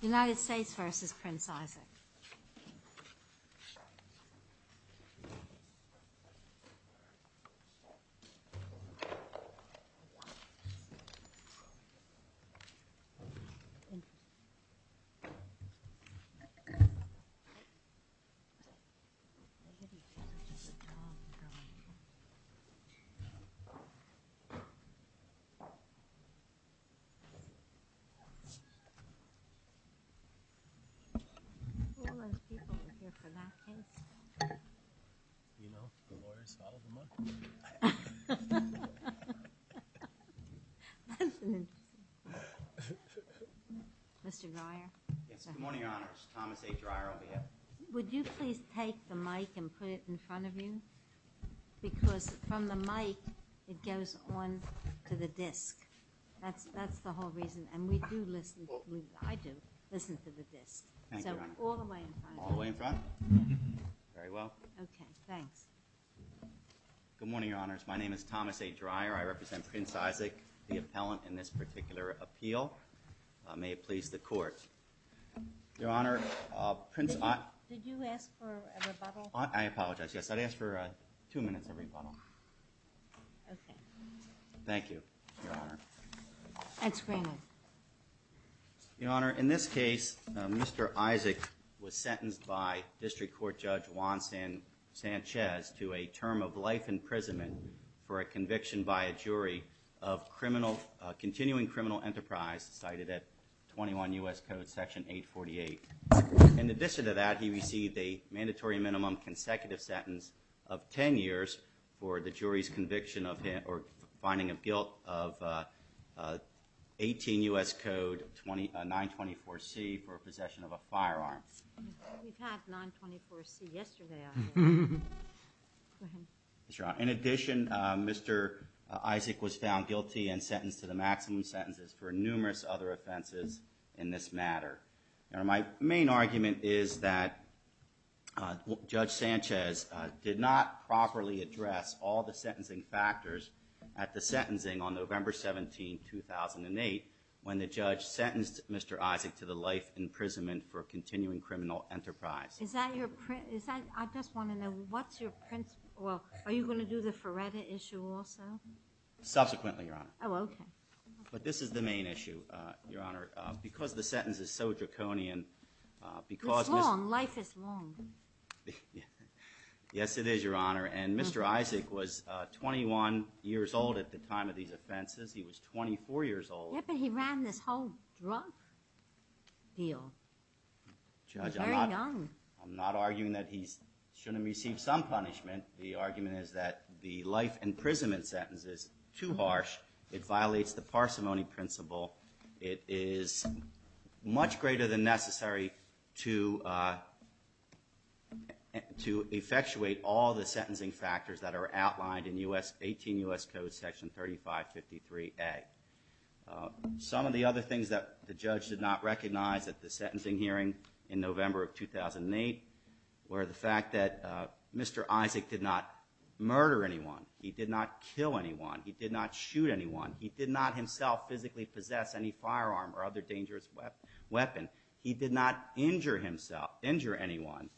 United States v. Prince Isaac Would you please take the mic and put it in front of you because from the mic it goes on to the disc that's that's the whole reason and we do listen I do listen to the disc all the way in front very well okay thanks good morning your honors my name is Thomas a dryer I represent Prince Isaac the appellant in this particular appeal may it please the court your honor prince I apologize yes I'd ask for two minutes of rebuttal thank you your honor in this case mr. Isaac was sentenced by district court judge Juan San Sanchez to a term of life imprisonment for a conviction by a jury of criminal continuing criminal enterprise cited at 21 US Code section 848 in addition to that he received a sentence of 10 years for the jury's conviction of him or finding of guilt of 18 US Code 20 924 C for possession of a firearm in addition mr. Isaac was found guilty and sentenced to the maximum sentences for numerous other offenses in this matter my main argument is that judge Sanchez did not properly address all the sentencing factors at the sentencing on November 17 2008 when the judge sentenced mr. Isaac to the life imprisonment for a continuing criminal enterprise is that your print is that I just want to know what's your prince well are you going to do the Feretta issue also subsequently you're on okay but this is the main issue your honor because the sentence is so draconian because long life is long yes it is your honor and mr. Isaac was 21 years old at the time of these offenses he was 24 years old yeah but he ran this whole drug deal I'm not arguing that he's shouldn't receive some punishment the argument is that the life imprisonment sentence is too harsh it violates the parsimony principle it is much greater than necessary to to effectuate all the sentencing factors that are outlined in u.s. 18 u.s. code section 3553 a some of the other things that the judge did not recognize that the sentencing hearing in November of 2008 where the fact that mr. Isaac did not murder anyone he did not kill anyone he did not shoot anyone he did not himself physically possess any firearm or other dangerous weapon weapon he did not injure himself injure anyone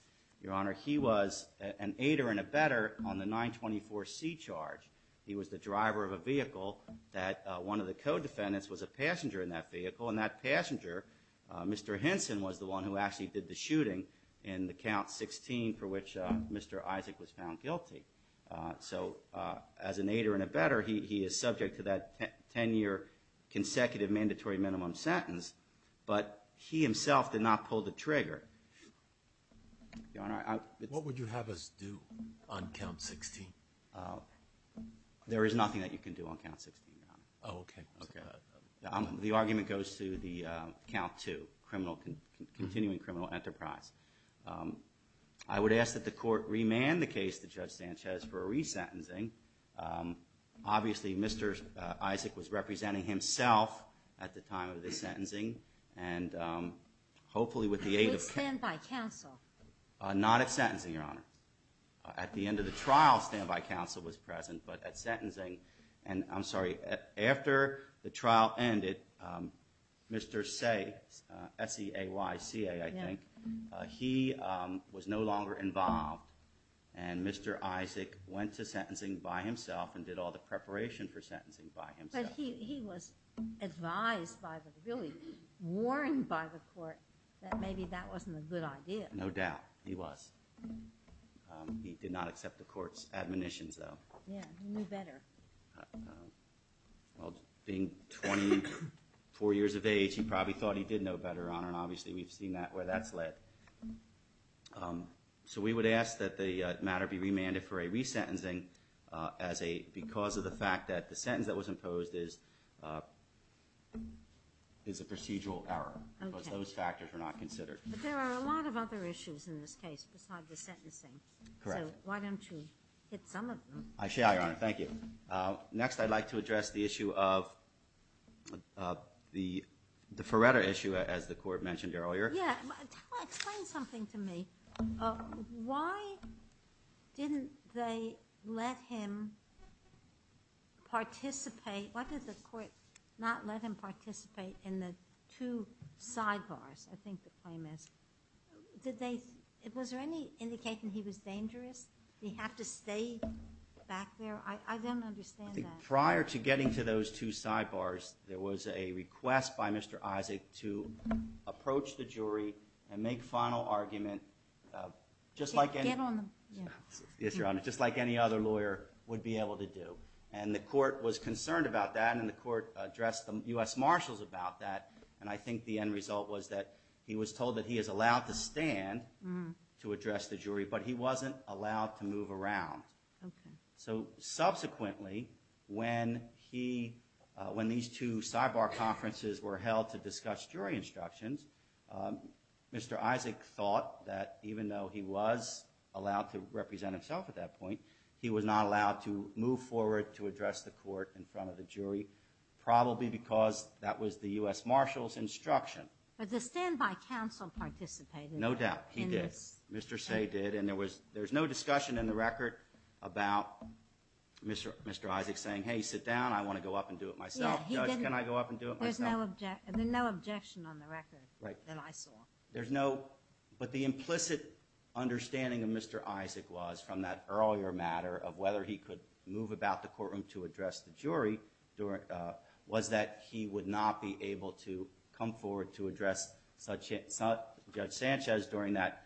your honor he was an aider and a better on the 924 C charge he was the driver of a vehicle that one of the co-defendants was a passenger in that vehicle and that passenger mr. Henson was the one who actually did the shooting in the count 16 for which mr. Isaac was found guilty so as an aider and a better he is subject to that 10-year consecutive mandatory minimum sentence but he himself did not pull the trigger what would you have us do on count 16 there is nothing that you can do on count 16 okay okay I'm the argument goes to the count to criminal continuing criminal enterprise I would ask that the court remand the case to judge Sanchez for a resentencing obviously mr. Isaac was representing himself at the time of the sentencing and hopefully with the aid of standby counsel not at sentencing your honor at the end of the trial standby counsel was present but at sentencing and I'm sorry after the trial ended mr. say se a YCA I think he was no longer involved and mr. Isaac went to sentencing by himself and did all the preparation for sentencing by him but he was advised by the really warned by the court that maybe that wasn't a good idea no doubt he was he did not accept the court's admonitions though yeah better well being 24 years of age he probably thought he did know better on and obviously we've seen that where that's led so we would ask that the matter be remanded for a resentencing as a because of the fact that the sentence that was imposed is is a procedural error those factors are not considered there are a lot of other issues in this case besides the sentencing correct why don't you hit I thank you next I'd like to address the issue of the the Feretta issue as the court mentioned earlier yeah explain something to me why didn't they let him participate what did the court not let him participate in the two sidebars I think the claim is did they it was there any indicating he was dangerous we have prior to getting to those two sidebars there was a request by mr. Isaac to approach the jury and make final argument just like it on yes your honor just like any other lawyer would be able to do and the court was concerned about that and the court addressed the US Marshals about that and I think the end result was that he was told that he is allowed to stand to address the jury but he wasn't allowed to move around so subsequently when he when these two sidebar conferences were held to discuss jury instructions mr. Isaac thought that even though he was allowed to represent himself at that point he was not allowed to move forward to address the court in front of the jury probably because that was the US Marshals instruction but the standby counsel participated no doubt he did mr. say did and there was there's no discussion in the record about mr. mr. Isaac saying hey sit down I want to go up and do it myself and then no objection on the record right then I saw there's no but the implicit understanding of mr. Isaac was from that earlier matter of whether he could move about the courtroom to address the jury during was that he would not be able to come forward to address such it's not judge Sanchez during that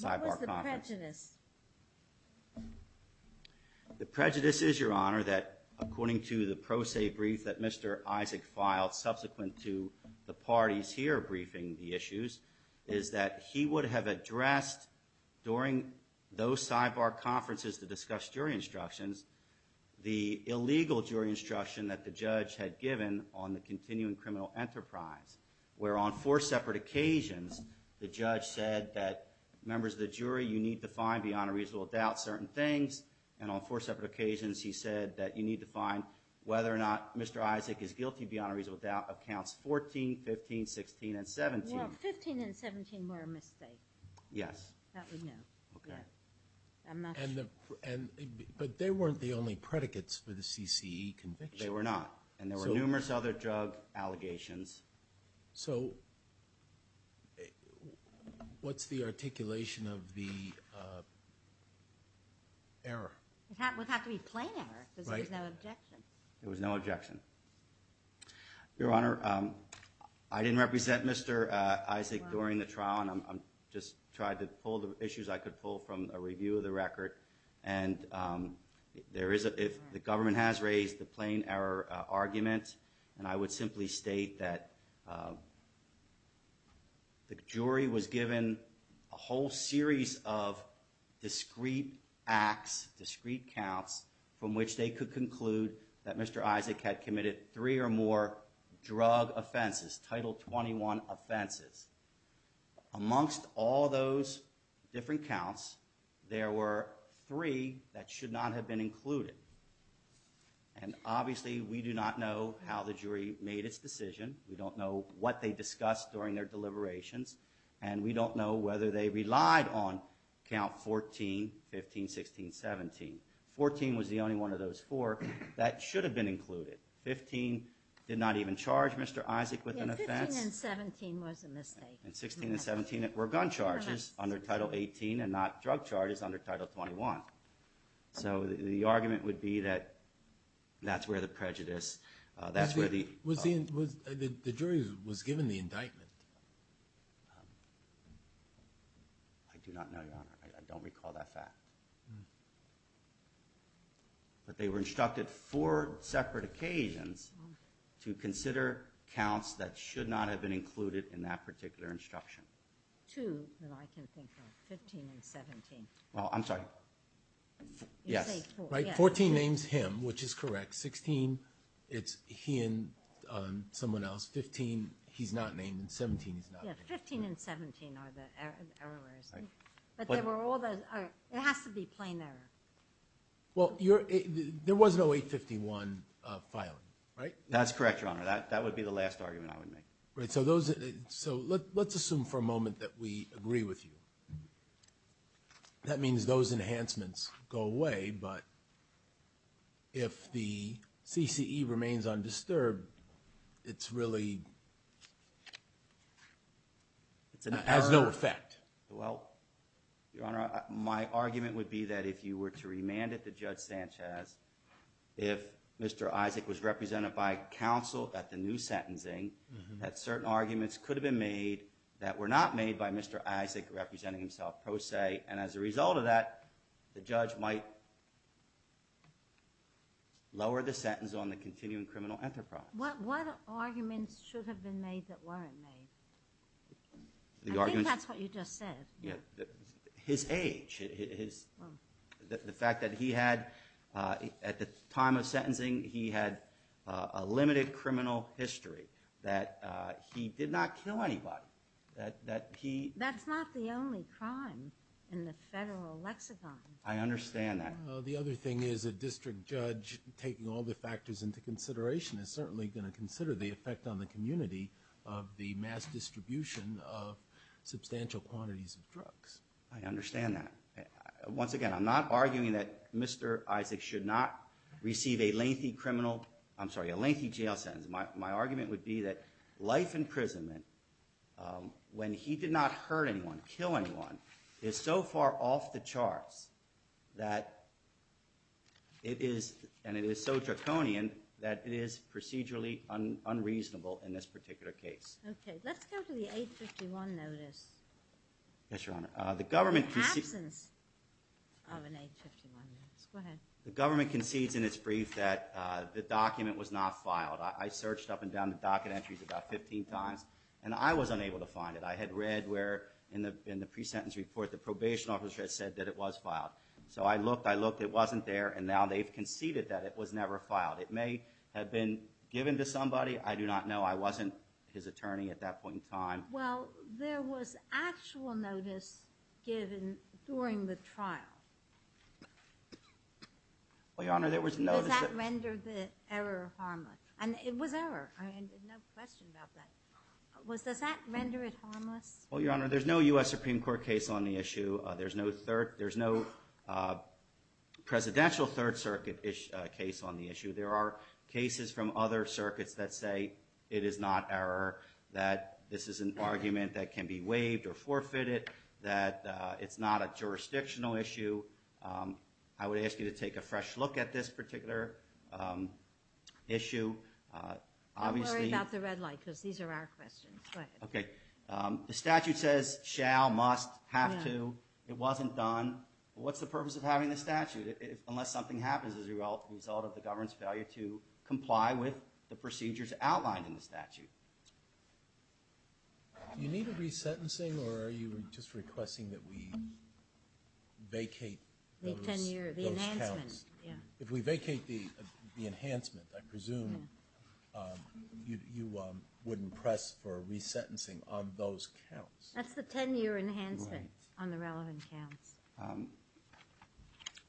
sidebar confidence the prejudice is your honor that according to the pro se brief that mr. Isaac filed subsequent to the parties here briefing the issues is that he would have addressed during those sidebar conferences to discuss jury instructions the illegal jury instruction that the judge had given on the continuing criminal enterprise where on four separate occasions the judge said that members of the jury you need to find beyond a reasonable doubt certain things and on four separate occasions he said that you need to find whether or not mr. Isaac is guilty beyond a reasonable doubt accounts 14 15 16 and 17 yes but they weren't the only predicates for the CCE conviction they were not and there were numerous other drug allegations so what's the articulation of the error it was no objection your honor I didn't represent mr. Isaac during the trial and I'm just tried to pull the issues I could pull from a review of the record and there is a if the government has raised the plain error argument and I would simply state that the jury was given a whole series of discrete acts discrete counts from which they could conclude that mr. Isaac had committed three or more drug offenses title 21 offenses amongst all those different counts there were three that should not have been included and obviously we do not know how the jury made its decision we don't know what they discussed during their deliberations and we don't know whether they relied on count 14 15 16 17 14 was the only one of those four that should have been included 15 did not even charge mr. Isaac with an offense and 16 and 17 that were gun charges under title 18 and not drug charges under title 21 so the argument would be that that's where the prejudice that's where the was the jury was given the indictment I do not know I don't recall that fact but they were instructed for separate occasions to consider counts that should not have been included in that particular instruction well I'm sorry yes right 14 names him which is correct 16 it's he and someone else 15 he's not named and 17 well you're there was no 851 filing right that's correct your right so those so let's assume for a moment that we agree with you that means those enhancements go away but if the CCE remains undisturbed it's really it's an has no effect well your honor my argument would be that if you were to remanded the judge Sanchez if mr. Isaac was represented by counsel at the new sentencing that certain arguments could have been made that were not made by mr. Isaac representing himself pro se and as a result of that the judge might lower the sentence on the continuing criminal enterprise what what arguments should have been made that weren't made the argument that's what you just said yeah his age is the fact that he had at the time of sentencing he had a limited criminal history that he did not kill anybody that that he that's not the only crime in the federal lexicon I understand that the other thing is a district judge taking all the factors into consideration is certainly going to consider the effect on the community of the mass distribution of substantial quantities of drugs I understand that once again I'm not arguing that mr. should not receive a lengthy criminal I'm sorry a lengthy jail sentence my argument would be that life imprisonment when he did not hurt anyone kill anyone is so far off the charts that it is and it is so draconian that it is the government concedes in its brief that the document was not filed I searched up and down the docket entries about 15 times and I was unable to find it I had read where in the in the pre-sentence report the probation officer had said that it was filed so I looked I looked it wasn't there and now they've conceded that it was never filed it may have been given to somebody I do not know I wasn't his attorney at that point in time well there was actual notice given during the trial well your honor there was no there's no US Supreme Court case on the issue there's no third there's no presidential Third Circuit ish case on the issue there are cases from other circuits that say it is not error that this is an argument that can be waived or forfeited that it's not a jurisdictional issue I would ask you to take a fresh look at this particular issue okay the statute says shall must have to it wasn't done what's the purpose of having the statute if unless something happens as a result result of the government's failure to comply with the procedures outlined in the statute you need a resentencing or are you just requesting that we vacate if we vacate the enhancement I presume you wouldn't press for a resentencing of those counts that's the 10-year enhancement on the relevant counts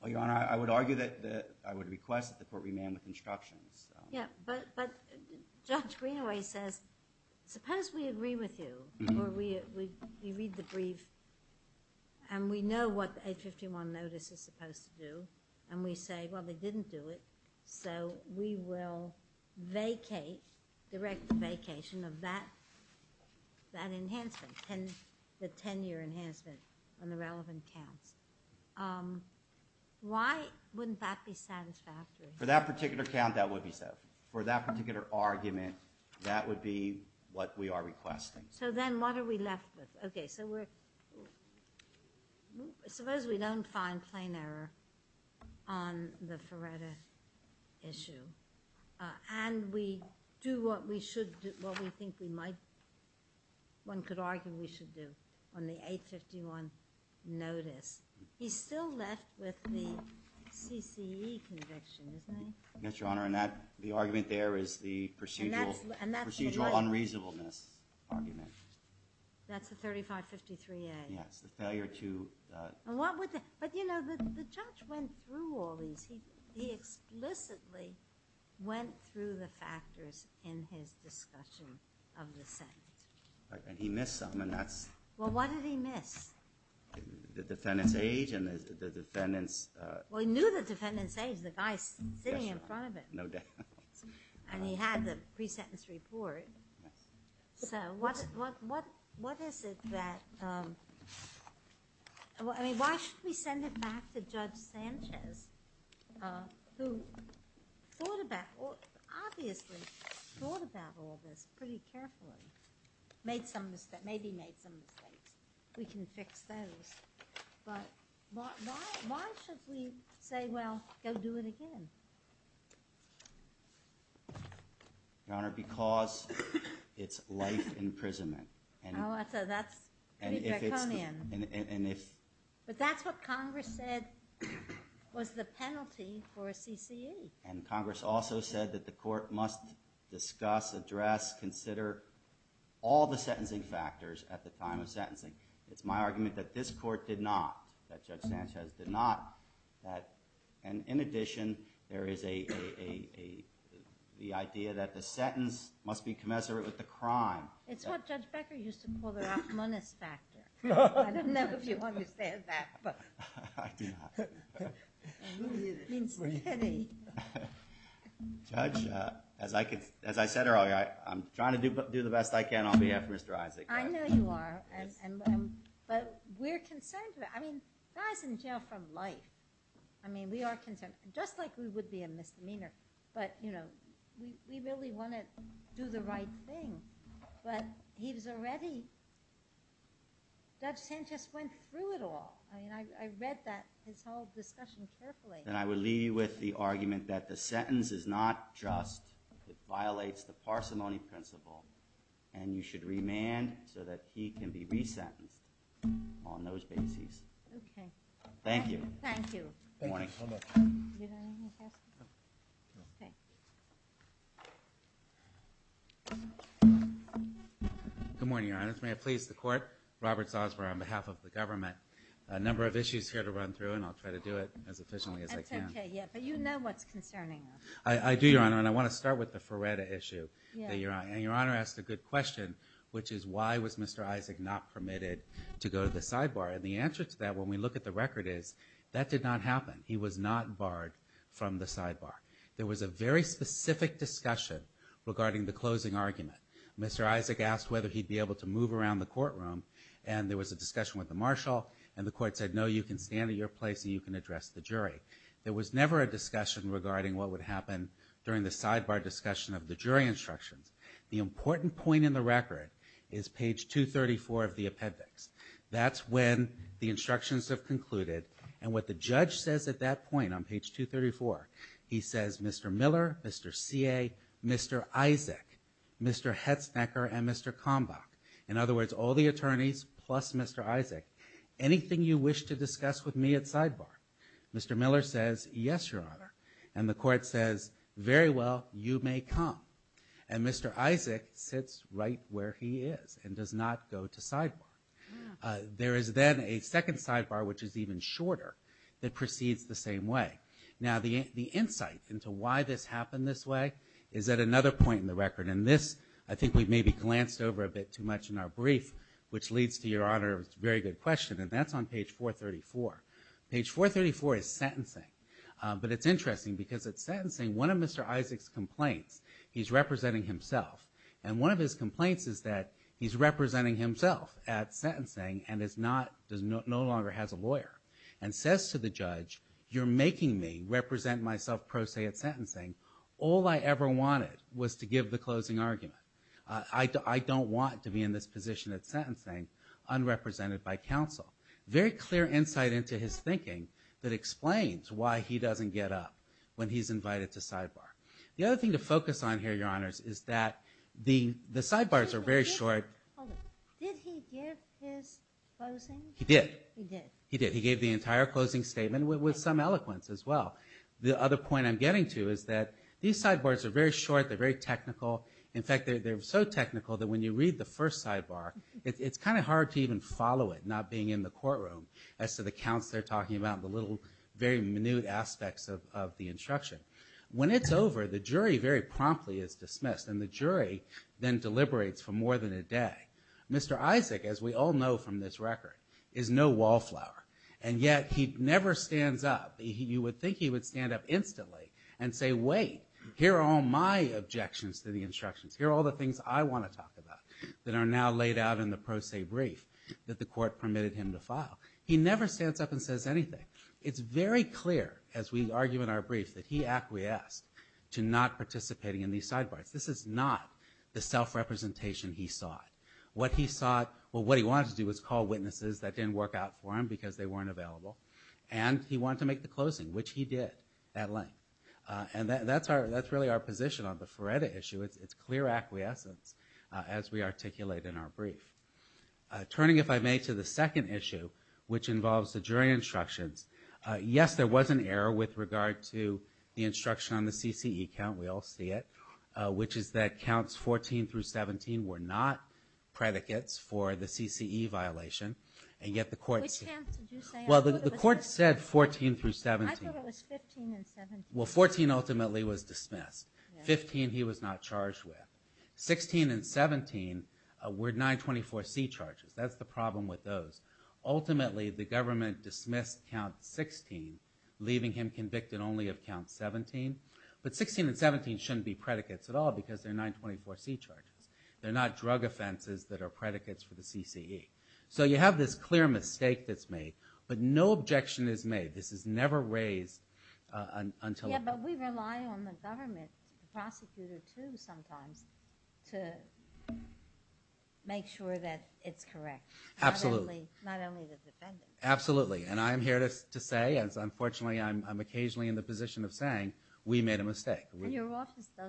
well your honor I would argue that I would request that the court remain with instructions yeah but but judge Greenaway says suppose we agree with you we read the brief and we know what the 851 notice is supposed to do and we say well they didn't do it so we will vacate direct the vacation of that that enhancement and the 10-year enhancement on the relevant counts why wouldn't that be satisfactory for that particular count that would be so for that particular argument that would be what we are requesting so then what are we left with okay so we're suppose we don't find plain error on the Feretta issue and we do what we should do what we think we might one could argue we should do on the 851 notice he's still left with the CCE conviction yes your honor and that the argument there is the procedural and that's procedural unreasonableness argument that's the 3553 a yes the failure to what would that but you know the judge went through all these he he explicitly went through the factors in his discussion of the Senate and he missed something that's well what did he miss the defendant's age and the defendants well he knew the defendant's age the guys sitting in front of it no doubt and he had the pre-sentence report so what what what is it that well I mean why should we send it back to judge Sanchez who thought about obviously thought about all this pretty carefully made some mistake maybe made some mistakes we can fix those but why should we say well go do it again your honor because it's life imprisonment and if but that's what Congress said was the penalty for a CCE and Congress also said that the court must discuss address consider all the sentencing factors at the time of sentencing it's my argument that this court did not that judge Sanchez did not that and in addition there is a the idea that the sentence must be commensurate with the crime as I could as I said earlier I'm trying to do but do the best I can on behalf of mr. Isaac I know you are but we're concerned I mean guys in jail from life I mean we are concerned just like we would be a misdemeanor but you know we really want to do the right thing but he was already judge Sanchez went through it all I mean I read that his whole discussion carefully and I would leave you with the argument that the sentence is not just it violates the parsimony principle and you should remand so that he can be on those bases thank you good morning your honors may I please the court Roberts Osborne on behalf of the government a number of issues here to run through and I'll try to do it as efficiently as I can I do your honor and I want to start with the Ferreta issue your honor and your honor asked a good question which is why was mr. Isaac not permitted to go to the sidebar and the answer to that when we look at the record is that did not happen he was not barred from the sidebar there was a very specific discussion regarding the closing argument mr. Isaac asked whether he'd be able to move around the courtroom and there was a discussion with the marshal and the court said no you can stand in your place you can address the jury there was never a discussion regarding what would happen during the sidebar discussion of the jury instructions the important point in the record is page 234 of the appendix that's when the instructions have concluded and what the judge says at that point on page 234 he says mr. Miller mr. CA mr. Isaac mr. Hetz necker and mr. combat in other words all the attorneys plus mr. Isaac anything you wish to discuss with me at sidebar mr. Miller says yes your honor and the court says very well you may come and mr. Isaac sits right where he is and does not go to sidebar there is then a second sidebar which is even shorter that proceeds the same way now the the insight into why this happened this way is that another point in the record and this I think we've maybe glanced over a bit too much in our brief which leads to your honor it's very good question and that's on page 434 page 434 is sentencing but it's interesting because it's sentencing one of mr. Isaac's complaints he's representing himself and one of his complaints is that he's representing himself at sentencing and it's not does not no longer has a lawyer and says to the judge you're making me represent myself pro se at sentencing all I ever wanted was to give the closing argument I don't want to be in this position at sentencing unrepresented by counsel very clear insight into his thinking that explains why he doesn't get up when he's invited to sidebar the other thing to focus on here your honors is that the the sidebars are very short he did he did he gave the entire closing statement with some eloquence as well the other point I'm getting to is that these sideboards are very short they're very technical in fact they're so technical that when you read the first sidebar it's kind of hard to even follow it not being in the courtroom as to the counts they're talking about the little very new aspects of the instruction when it's over the jury very promptly is dismissed and the jury then deliberates for more than a day mr. Isaac as we all know from this record is no wallflower and yet he never stands up you would think he would stand up instantly and say wait here are all my objections to the instructions here are all the things I want to talk about that are now laid out in the pro se brief that the court permitted him to file he never stands up and says anything it's very clear as we argue in our brief that he acquiesced to not participating in these sidebars this is not the self-representation he saw it what he saw it well what he wanted to do was call witnesses that didn't work out for him because they weren't available and he wanted to make the closing which he did that length and that's our that's really our position on the Feretta issue it's clear acquiescence as we articulate in our brief turning if I may to the jury instructions yes there was an error with regard to the instruction on the CCE count we all see it which is that counts 14 through 17 were not predicates for the CCE violation and yet the court well the court said 14 through 17 well 14 ultimately was dismissed 15 he was not charged with 16 and 17 were 924 C charges that's the problem with those ultimately the government dismissed count 16 leaving him convicted only of count 17 but 16 and 17 shouldn't be predicates at all because they're 924 C charges they're not drug offenses that are predicates for the CCE so you have this clear mistake that's made but no objection is made this is never raised until we rely on the government prosecutor to sometimes to make sure that it's correct absolutely absolutely and I'm here to say as unfortunately I'm occasionally in the position of saying we made a mistake well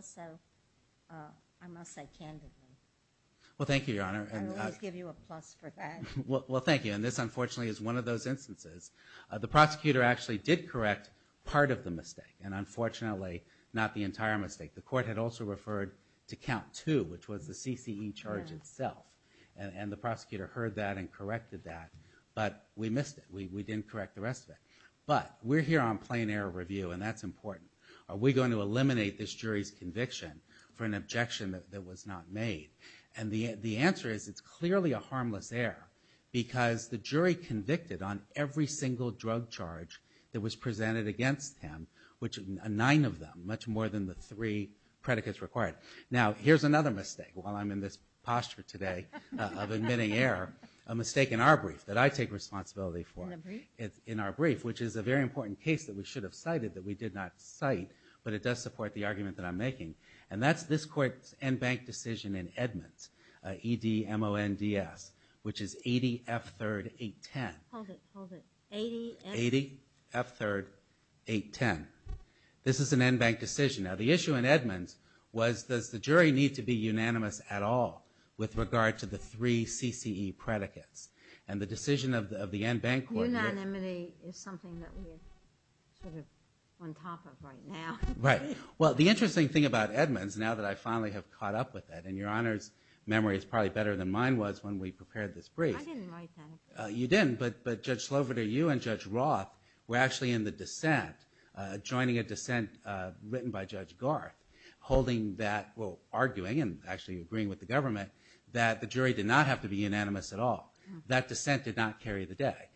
thank you your honor well thank you and this unfortunately is one of those instances the prosecutor actually did correct part of the mistake and unfortunately not the entire mistake the court had also referred to count to which was the CCE charge itself and the prosecutor heard that and corrected that but we missed it we didn't correct the rest of it but we're here on plain error review and that's important are we going to eliminate this jury's conviction for an objection that was not made and the the answer is it's clearly a harmless error because the jury convicted on every single drug charge that was presented against him which a nine of them much more than the three predicates required now here's another mistake while I'm in this posture today of admitting error a mistake in our brief that I take responsibility for it's in our brief which is a very important case that we should have cited that we did not cite but it does support the argument that I'm making and that's this court's decision in Edmonds EDMONDS which is 80 f-third 810 80 80 f-third 810 this is an end bank decision now the issue in Edmonds was does the jury need to be unanimous at all with regard to the three CCE predicates and the decision of the of the end bank court right well the interesting thing about Edmonds now that I finally have caught up with that and your honors memory is probably better than mine was when we prepared this brief you didn't but but judge slover to you and judge Roth were actually in the dissent joining a dissent written by judge Garth holding that well arguing and actually agreeing with the government that the jury did not have to be unanimous at all that dissent did not carry the day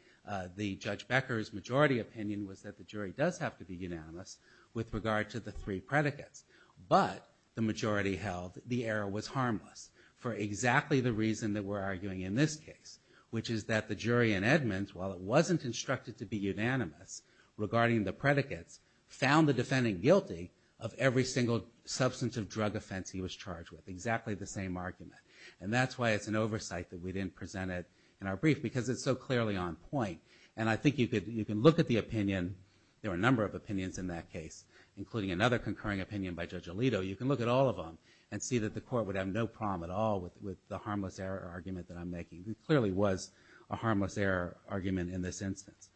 the judge Becker's majority opinion was that the jury does have to be unanimous with regard to the three predicates but the majority held the error was harmless for exactly the reason that we're arguing in this case which is that the jury in Edmonds while it wasn't instructed to be unanimous regarding the predicates found the defendant guilty of every single substance of drug offense he was charged with exactly the same argument and that's why it's an oversight that we didn't present it in our brief because it's so clearly on point and I think you could you can look at the opinion there are a number of opinions in that case including another concurring opinion by judge Alito you can look at all of them and see that the court would have no problem at all with the harmless error argument that I'm making it clearly was a harmless error argument in this instance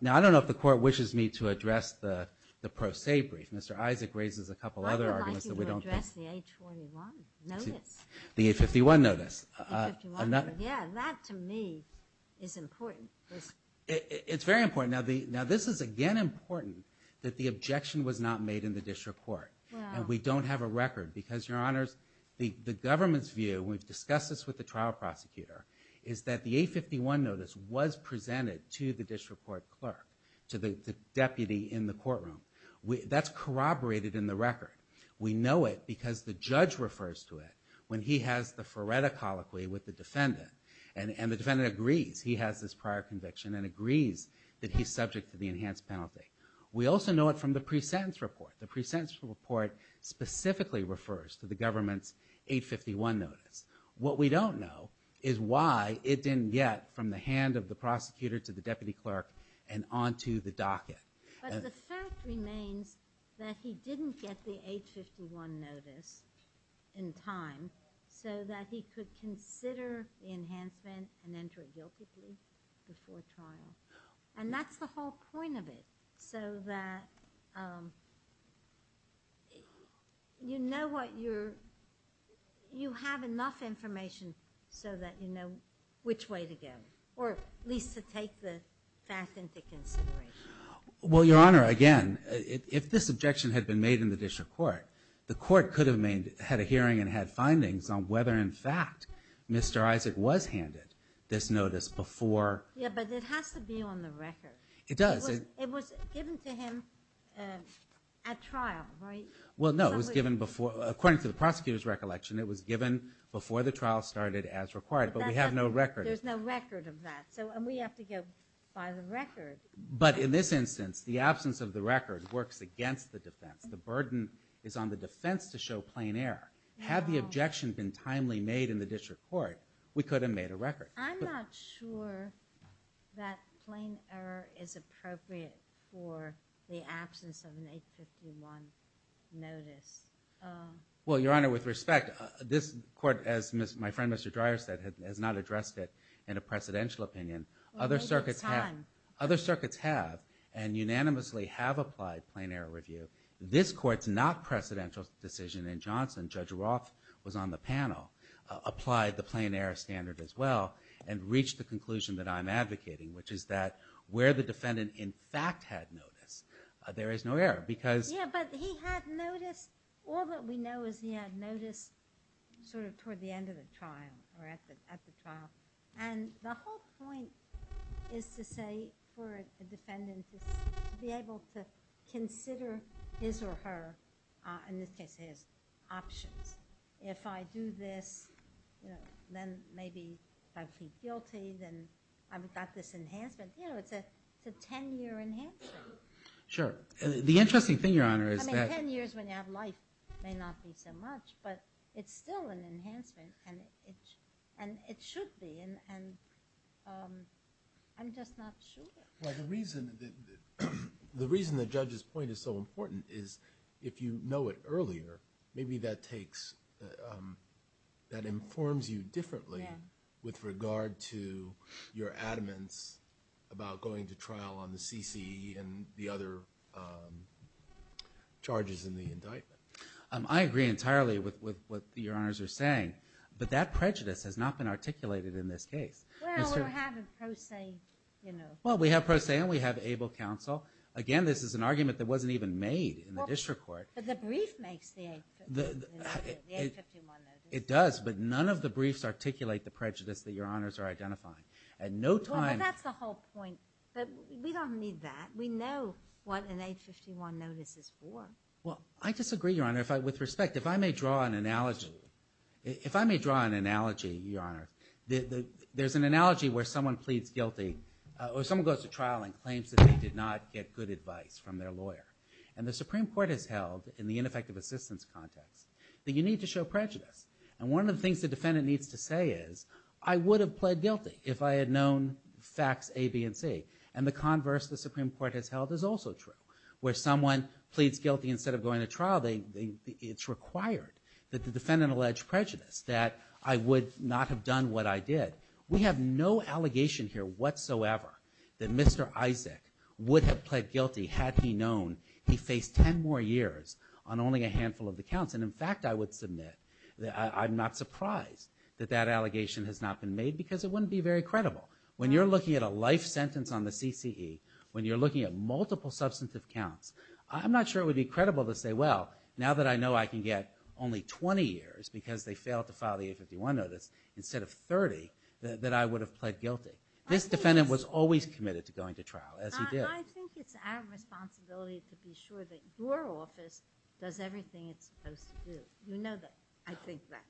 now I don't know if the court wishes me to address the the pro se brief mr. Isaac raises a couple other arguments that we don't the 851 notice yeah that to me is important it's very important now the now this is again important that the objection was not made in the district court and we don't have a record because your honors the the government's view we've discussed this with the trial prosecutor is that the 851 notice was presented to the district court clerk to the deputy in the courtroom we that's corroborated in the record we know it because the judge refers to it when he has the Faretta colloquy with the defendant and and the that he's subject to the enhanced penalty we also know it from the presentence report the presentence report specifically refers to the government's 851 notice what we don't know is why it didn't get from the hand of the prosecutor to the deputy clerk and on to the docket remains that he didn't get the 851 notice in time so that he could consider enhancement and point of it so that you know what you're you have enough information so that you know which way to go or at least to take the fact into consideration well your honor again if this objection had been made in the district court the court could have made had a hearing and had findings on whether in fact mr. Isaac was handed this notice before it does it was given to him at trial right well no it was given before according to the prosecutor's recollection it was given before the trial started as required but we have no record there's no record of that so and we have to go by the record but in this instance the absence of the record works against the defense the burden is on the defense to show plain error have the objection been timely made in the district court we could have made a record I'm not sure that plain error is appropriate for the absence of an 851 notice well your honor with respect this court as miss my friend mr. Dreier said has not addressed it in a presidential opinion other circuits have other circuits have and unanimously have applied plain error review this court's not presidential decision in Johnson judge Roth was on the panel applied the plain error standard as well and reached the conclusion that I'm advocating which is that where the defendant in fact had noticed there is no error because yeah but he had noticed all that we know is he had noticed sort of toward the end of the trial or at the trial and the whole point is to say for in this case his options if I do this then maybe I feel teeth and I've got this enhancement you know it's a 10-year enhancer sure the interesting thing your honor is that years when you have life may not be so much but it's still an enhancement and it and it should be and I'm just not sure the reason the judge's point is so important is if you know it earlier maybe that takes that informs you differently with regard to your adamance about going to trial on the CC and the other charges in the indictment I agree entirely with what your honors are saying but that prejudice has not been articulated in this case well we have pro se and we have able counsel again this is an argument that wasn't even made in the district court it does but none of the briefs articulate the prejudice that your honors are identifying at no time that's the whole point but we don't need that we know what an 851 notice is for well I disagree your honor if I with respect if I may draw an analogy if I there's an analogy where someone pleads guilty or someone goes to trial and claims that they did not get good advice from their lawyer and the Supreme Court has held in the ineffective assistance context that you need to show prejudice and one of the things the defendant needs to say is I would have pled guilty if I had known facts a B and C and the converse the Supreme Court has held is also true where someone pleads guilty instead of going to trial they it's required that the defendant alleged prejudice that I would not have done what I did we have no allegation here whatsoever that mr. Isaac would have pled guilty had he known he faced ten more years on only a handful of the counts and in fact I would submit that I'm not surprised that that allegation has not been made because it wouldn't be very credible when you're looking at a life sentence on the CCE when you're looking at multiple substantive counts I'm not sure it would be credible to say well now that I know I can get only 20 years because they failed to file the 851 notice instead of 30 that I would have pled guilty this defendant was always committed to going to trial as he did I think it's our responsibility to be sure that your office does everything it's supposed to do you know that I think that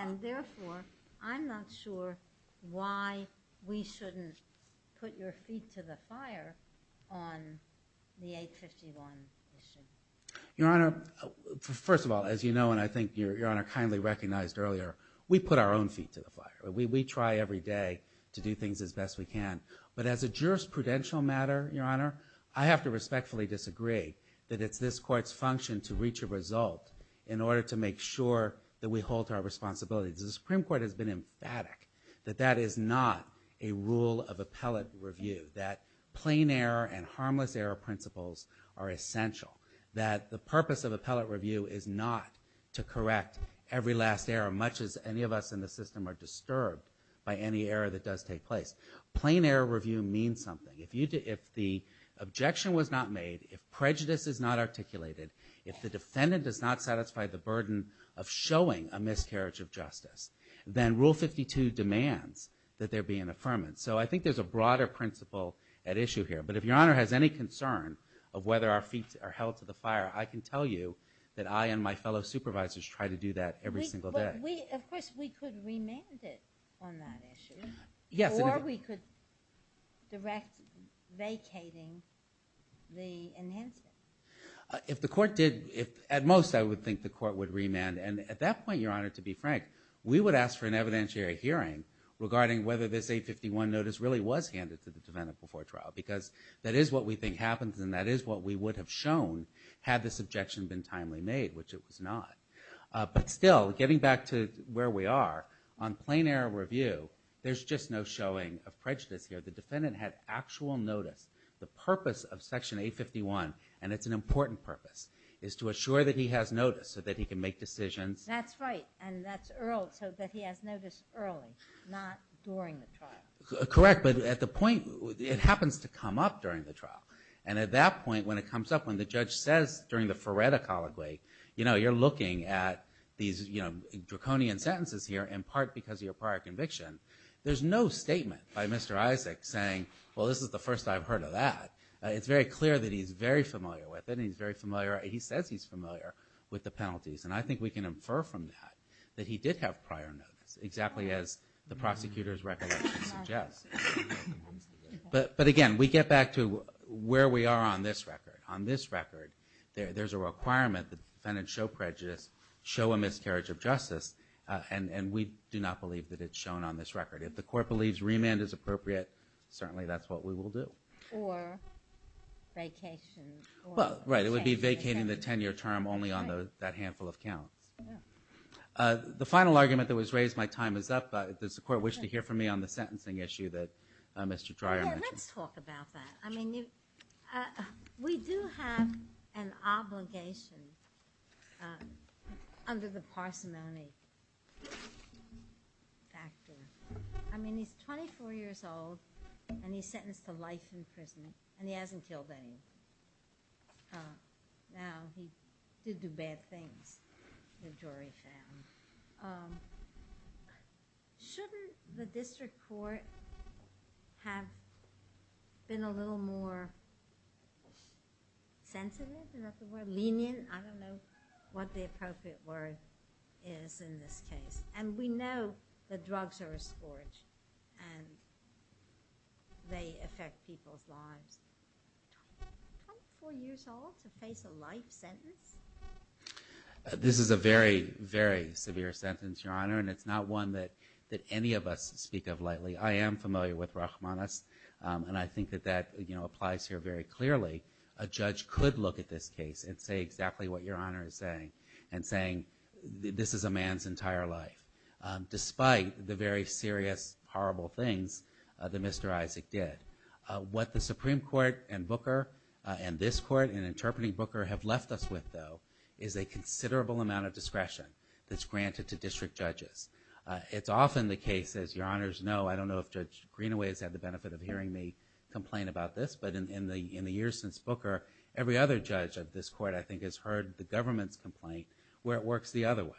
and therefore I'm not sure why we shouldn't put your feet to the fire on the 851 your honor first of all as you know and I think your honor kindly recognized earlier we put our own feet to the fire we try every day to do things as best we can but as a jurisprudential matter your honor I have to respectfully disagree that it's this court's function to reach a result in order to make sure that we hold to our responsibilities the Supreme Court has been emphatic that that is not a rule of appellate review that plain error and harmless error principles are essential that the purpose of appellate review is not to correct every last error much as any of us in the system are disturbed by any error that does take place plain error review means something if you did if the objection was not made if prejudice is not articulated if the defendant does not satisfy the burden of showing a miscarriage of justice then rule 52 demands that there be an affirmance so I think there's a broader principle at issue here but if your feet are held to the fire I can tell you that I and my fellow supervisors try to do that every single day. Of course we could remand it on that issue. Yes. Or we could direct vacating the enhancement. If the court did if at most I would think the court would remand and at that point your honor to be frank we would ask for an evidentiary hearing regarding whether this 851 notice really was handed to the defendant before trial because that is what we think happens and that is what we would have shown had this objection been timely made which it was not but still getting back to where we are on plain error review there's just no showing of prejudice here the defendant had actual notice the purpose of section 851 and it's an important purpose is to assure that he has notice so that he can make decisions. That's right and that's so that he has notice early not during the trial. Correct but at the point it happens to come up during the comes up when the judge says during the Ferretta colloquy you know you're looking at these you know draconian sentences here in part because of your prior conviction there's no statement by Mr. Isaac saying well this is the first I've heard of that. It's very clear that he's very familiar with it he's very familiar he says he's familiar with the penalties and I think we can infer from that that he did have prior notice exactly as the prosecutor's recollection suggests but but again we get back to where we are on this record on this record there there's a requirement the defendant show prejudice show a miscarriage of justice and and we do not believe that it's shown on this record if the court believes remand is appropriate certainly that's what we will do. Well right it would be vacating the 10-year term only on those that handful of counts. The final argument that was raised my time is up does the sentencing issue that Mr. Dreier mentioned. Let's talk about that. I mean we do have an obligation under the parsimony factor. I mean he's 24 years old and he's sentenced to life in prison and he hasn't killed any. Now he did do bad things. The jury found. Shouldn't the district court have been a little more sensitive? I don't know what the appropriate word is in this case. And we know that drugs are a scourge and they affect people's lives. 24 years old to face a life sentence? This is a very very severe sentence your honor and it's not one that that any of us speak of lightly. I am familiar with Rachmaninoff's and I think that that you know applies here very clearly. A judge could look at this case and say exactly what your honor is saying and saying this is a man's entire life despite the very serious horrible things that Mr. Isaac did. What the Supreme Court and Booker and this court and interpreting Booker have left us with though is a considerable amount of discretion that's given to both judges. It's often the case as your honors know I don't know if Judge Greenaway has had the benefit of hearing me complain about this, but in the years since Booker every other judge of this court I think has heard the government's complaint where it works the other way.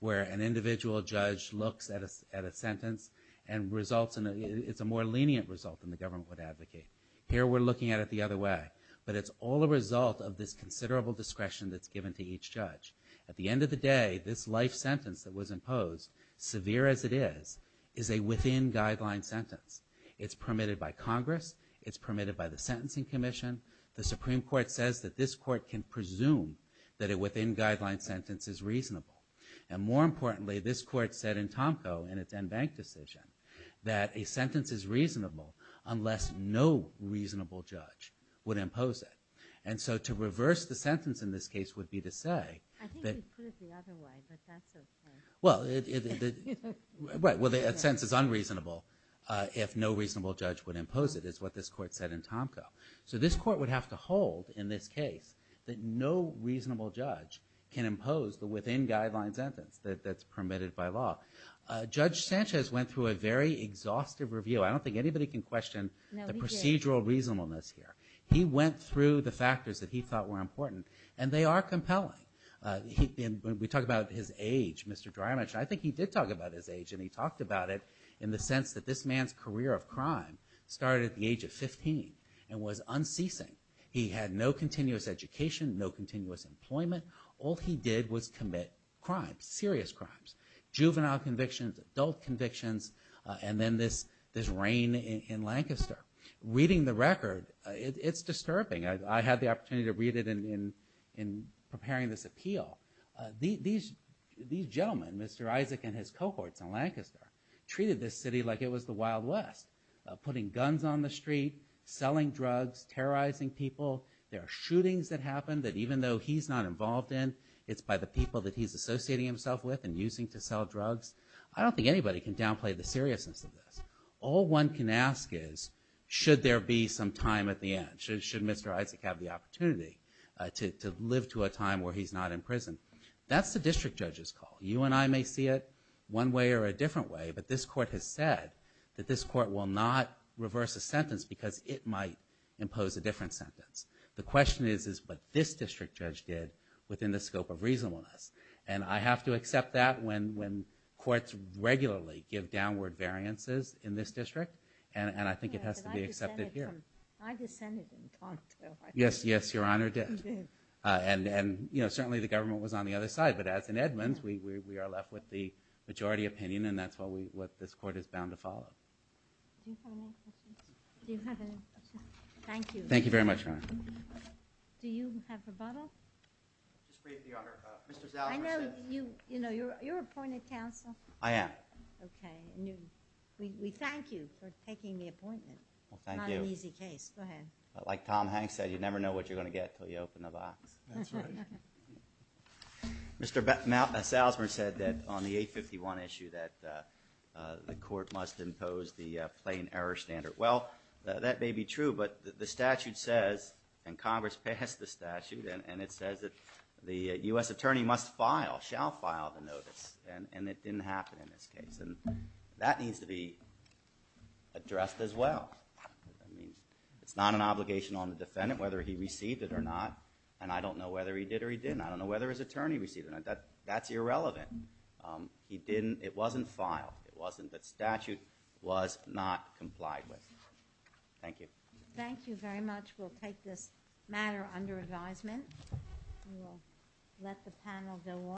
Where an individual judge looks at a sentence and results in it's a more lenient result than the government would advocate. Here we're looking at it the other way but it's all the result of this considerable discretion that's given to each judge. At the end of the day this life sentence that was imposed severe as it is, is a within guideline sentence. It's permitted by Congress, it's permitted by the Sentencing Commission, the Supreme Court says that this court can presume that a within guideline sentence is reasonable. And more importantly this court said in Tomko in its en banc decision that a sentence is reasonable unless no reasonable judge would impose it. And so to reverse the right, well the sentence is unreasonable if no reasonable judge would impose it is what this court said in Tomko. So this court would have to hold in this case that no reasonable judge can impose the within guideline sentence that's permitted by law. Judge Sanchez went through a very exhaustive review. I don't think anybody can question the procedural reasonableness here. He went through the factors that he thought were important and they are compelling. We talk about his age, Mr. Dramich, I think he did talk about his age and he talked about it in the sense that this man's career of crime started at the age of 15 and was unceasing. He had no continuous education, no continuous employment. All he did was commit crimes, serious crimes. Juvenile convictions, adult convictions, and then this reign in Lancaster. Reading the record it's disturbing. I had the opportunity to read it in preparing this appeal. These gentlemen, Mr. Isaac and his cohorts in Lancaster, treated this city like it was the Wild West. Putting guns on the street, selling drugs, terrorizing people. There are shootings that happen that even though he's not involved in, it's by the people that he's associating himself with and using to sell drugs. I don't think anybody can downplay the seriousness of this. All one can ask is, should there be some time at the end? Should Mr. Isaac have the opportunity to live to a time where he's not in prison? That's the district judge's call. You and I may see it one way or a different way, but this court has said that this court will not reverse a sentence because it might impose a different sentence. The question is, is what this district judge did within the scope of reasonableness? And I have to accept that when courts regularly give downward variances in this district, and I think it has to be accepted here. Yes, yes, Your Honor did. And, you know, certainly the government was on the other side, but as in Edmonds, we are left with the majority opinion and that's what this court is bound to follow. Thank you. Thank you very much, Your Honor. Do you have rebuttal? I know you, you know, you're appointed counsel. I am. Okay, and we thank you for taking the appointment. Well, thank you. Not an easy case. Go ahead. Like Tom Hanks said, you never know what you're going to get until you open the box. Mr. Salzman said that on the 851 issue that the court must impose the statute and Congress passed the statute and it says that the U.S. attorney must file, shall file the notice, and it didn't happen in this case. And that needs to be addressed as well. I mean, it's not an obligation on the defendant whether he received it or not, and I don't know whether he did or he didn't. I don't know whether his attorney received it. That's irrelevant. He didn't, it wasn't filed, it wasn't, but statute was not complied with. Thank you. Thank you very much. We'll take this matter under advisement. We'll let the panel go on.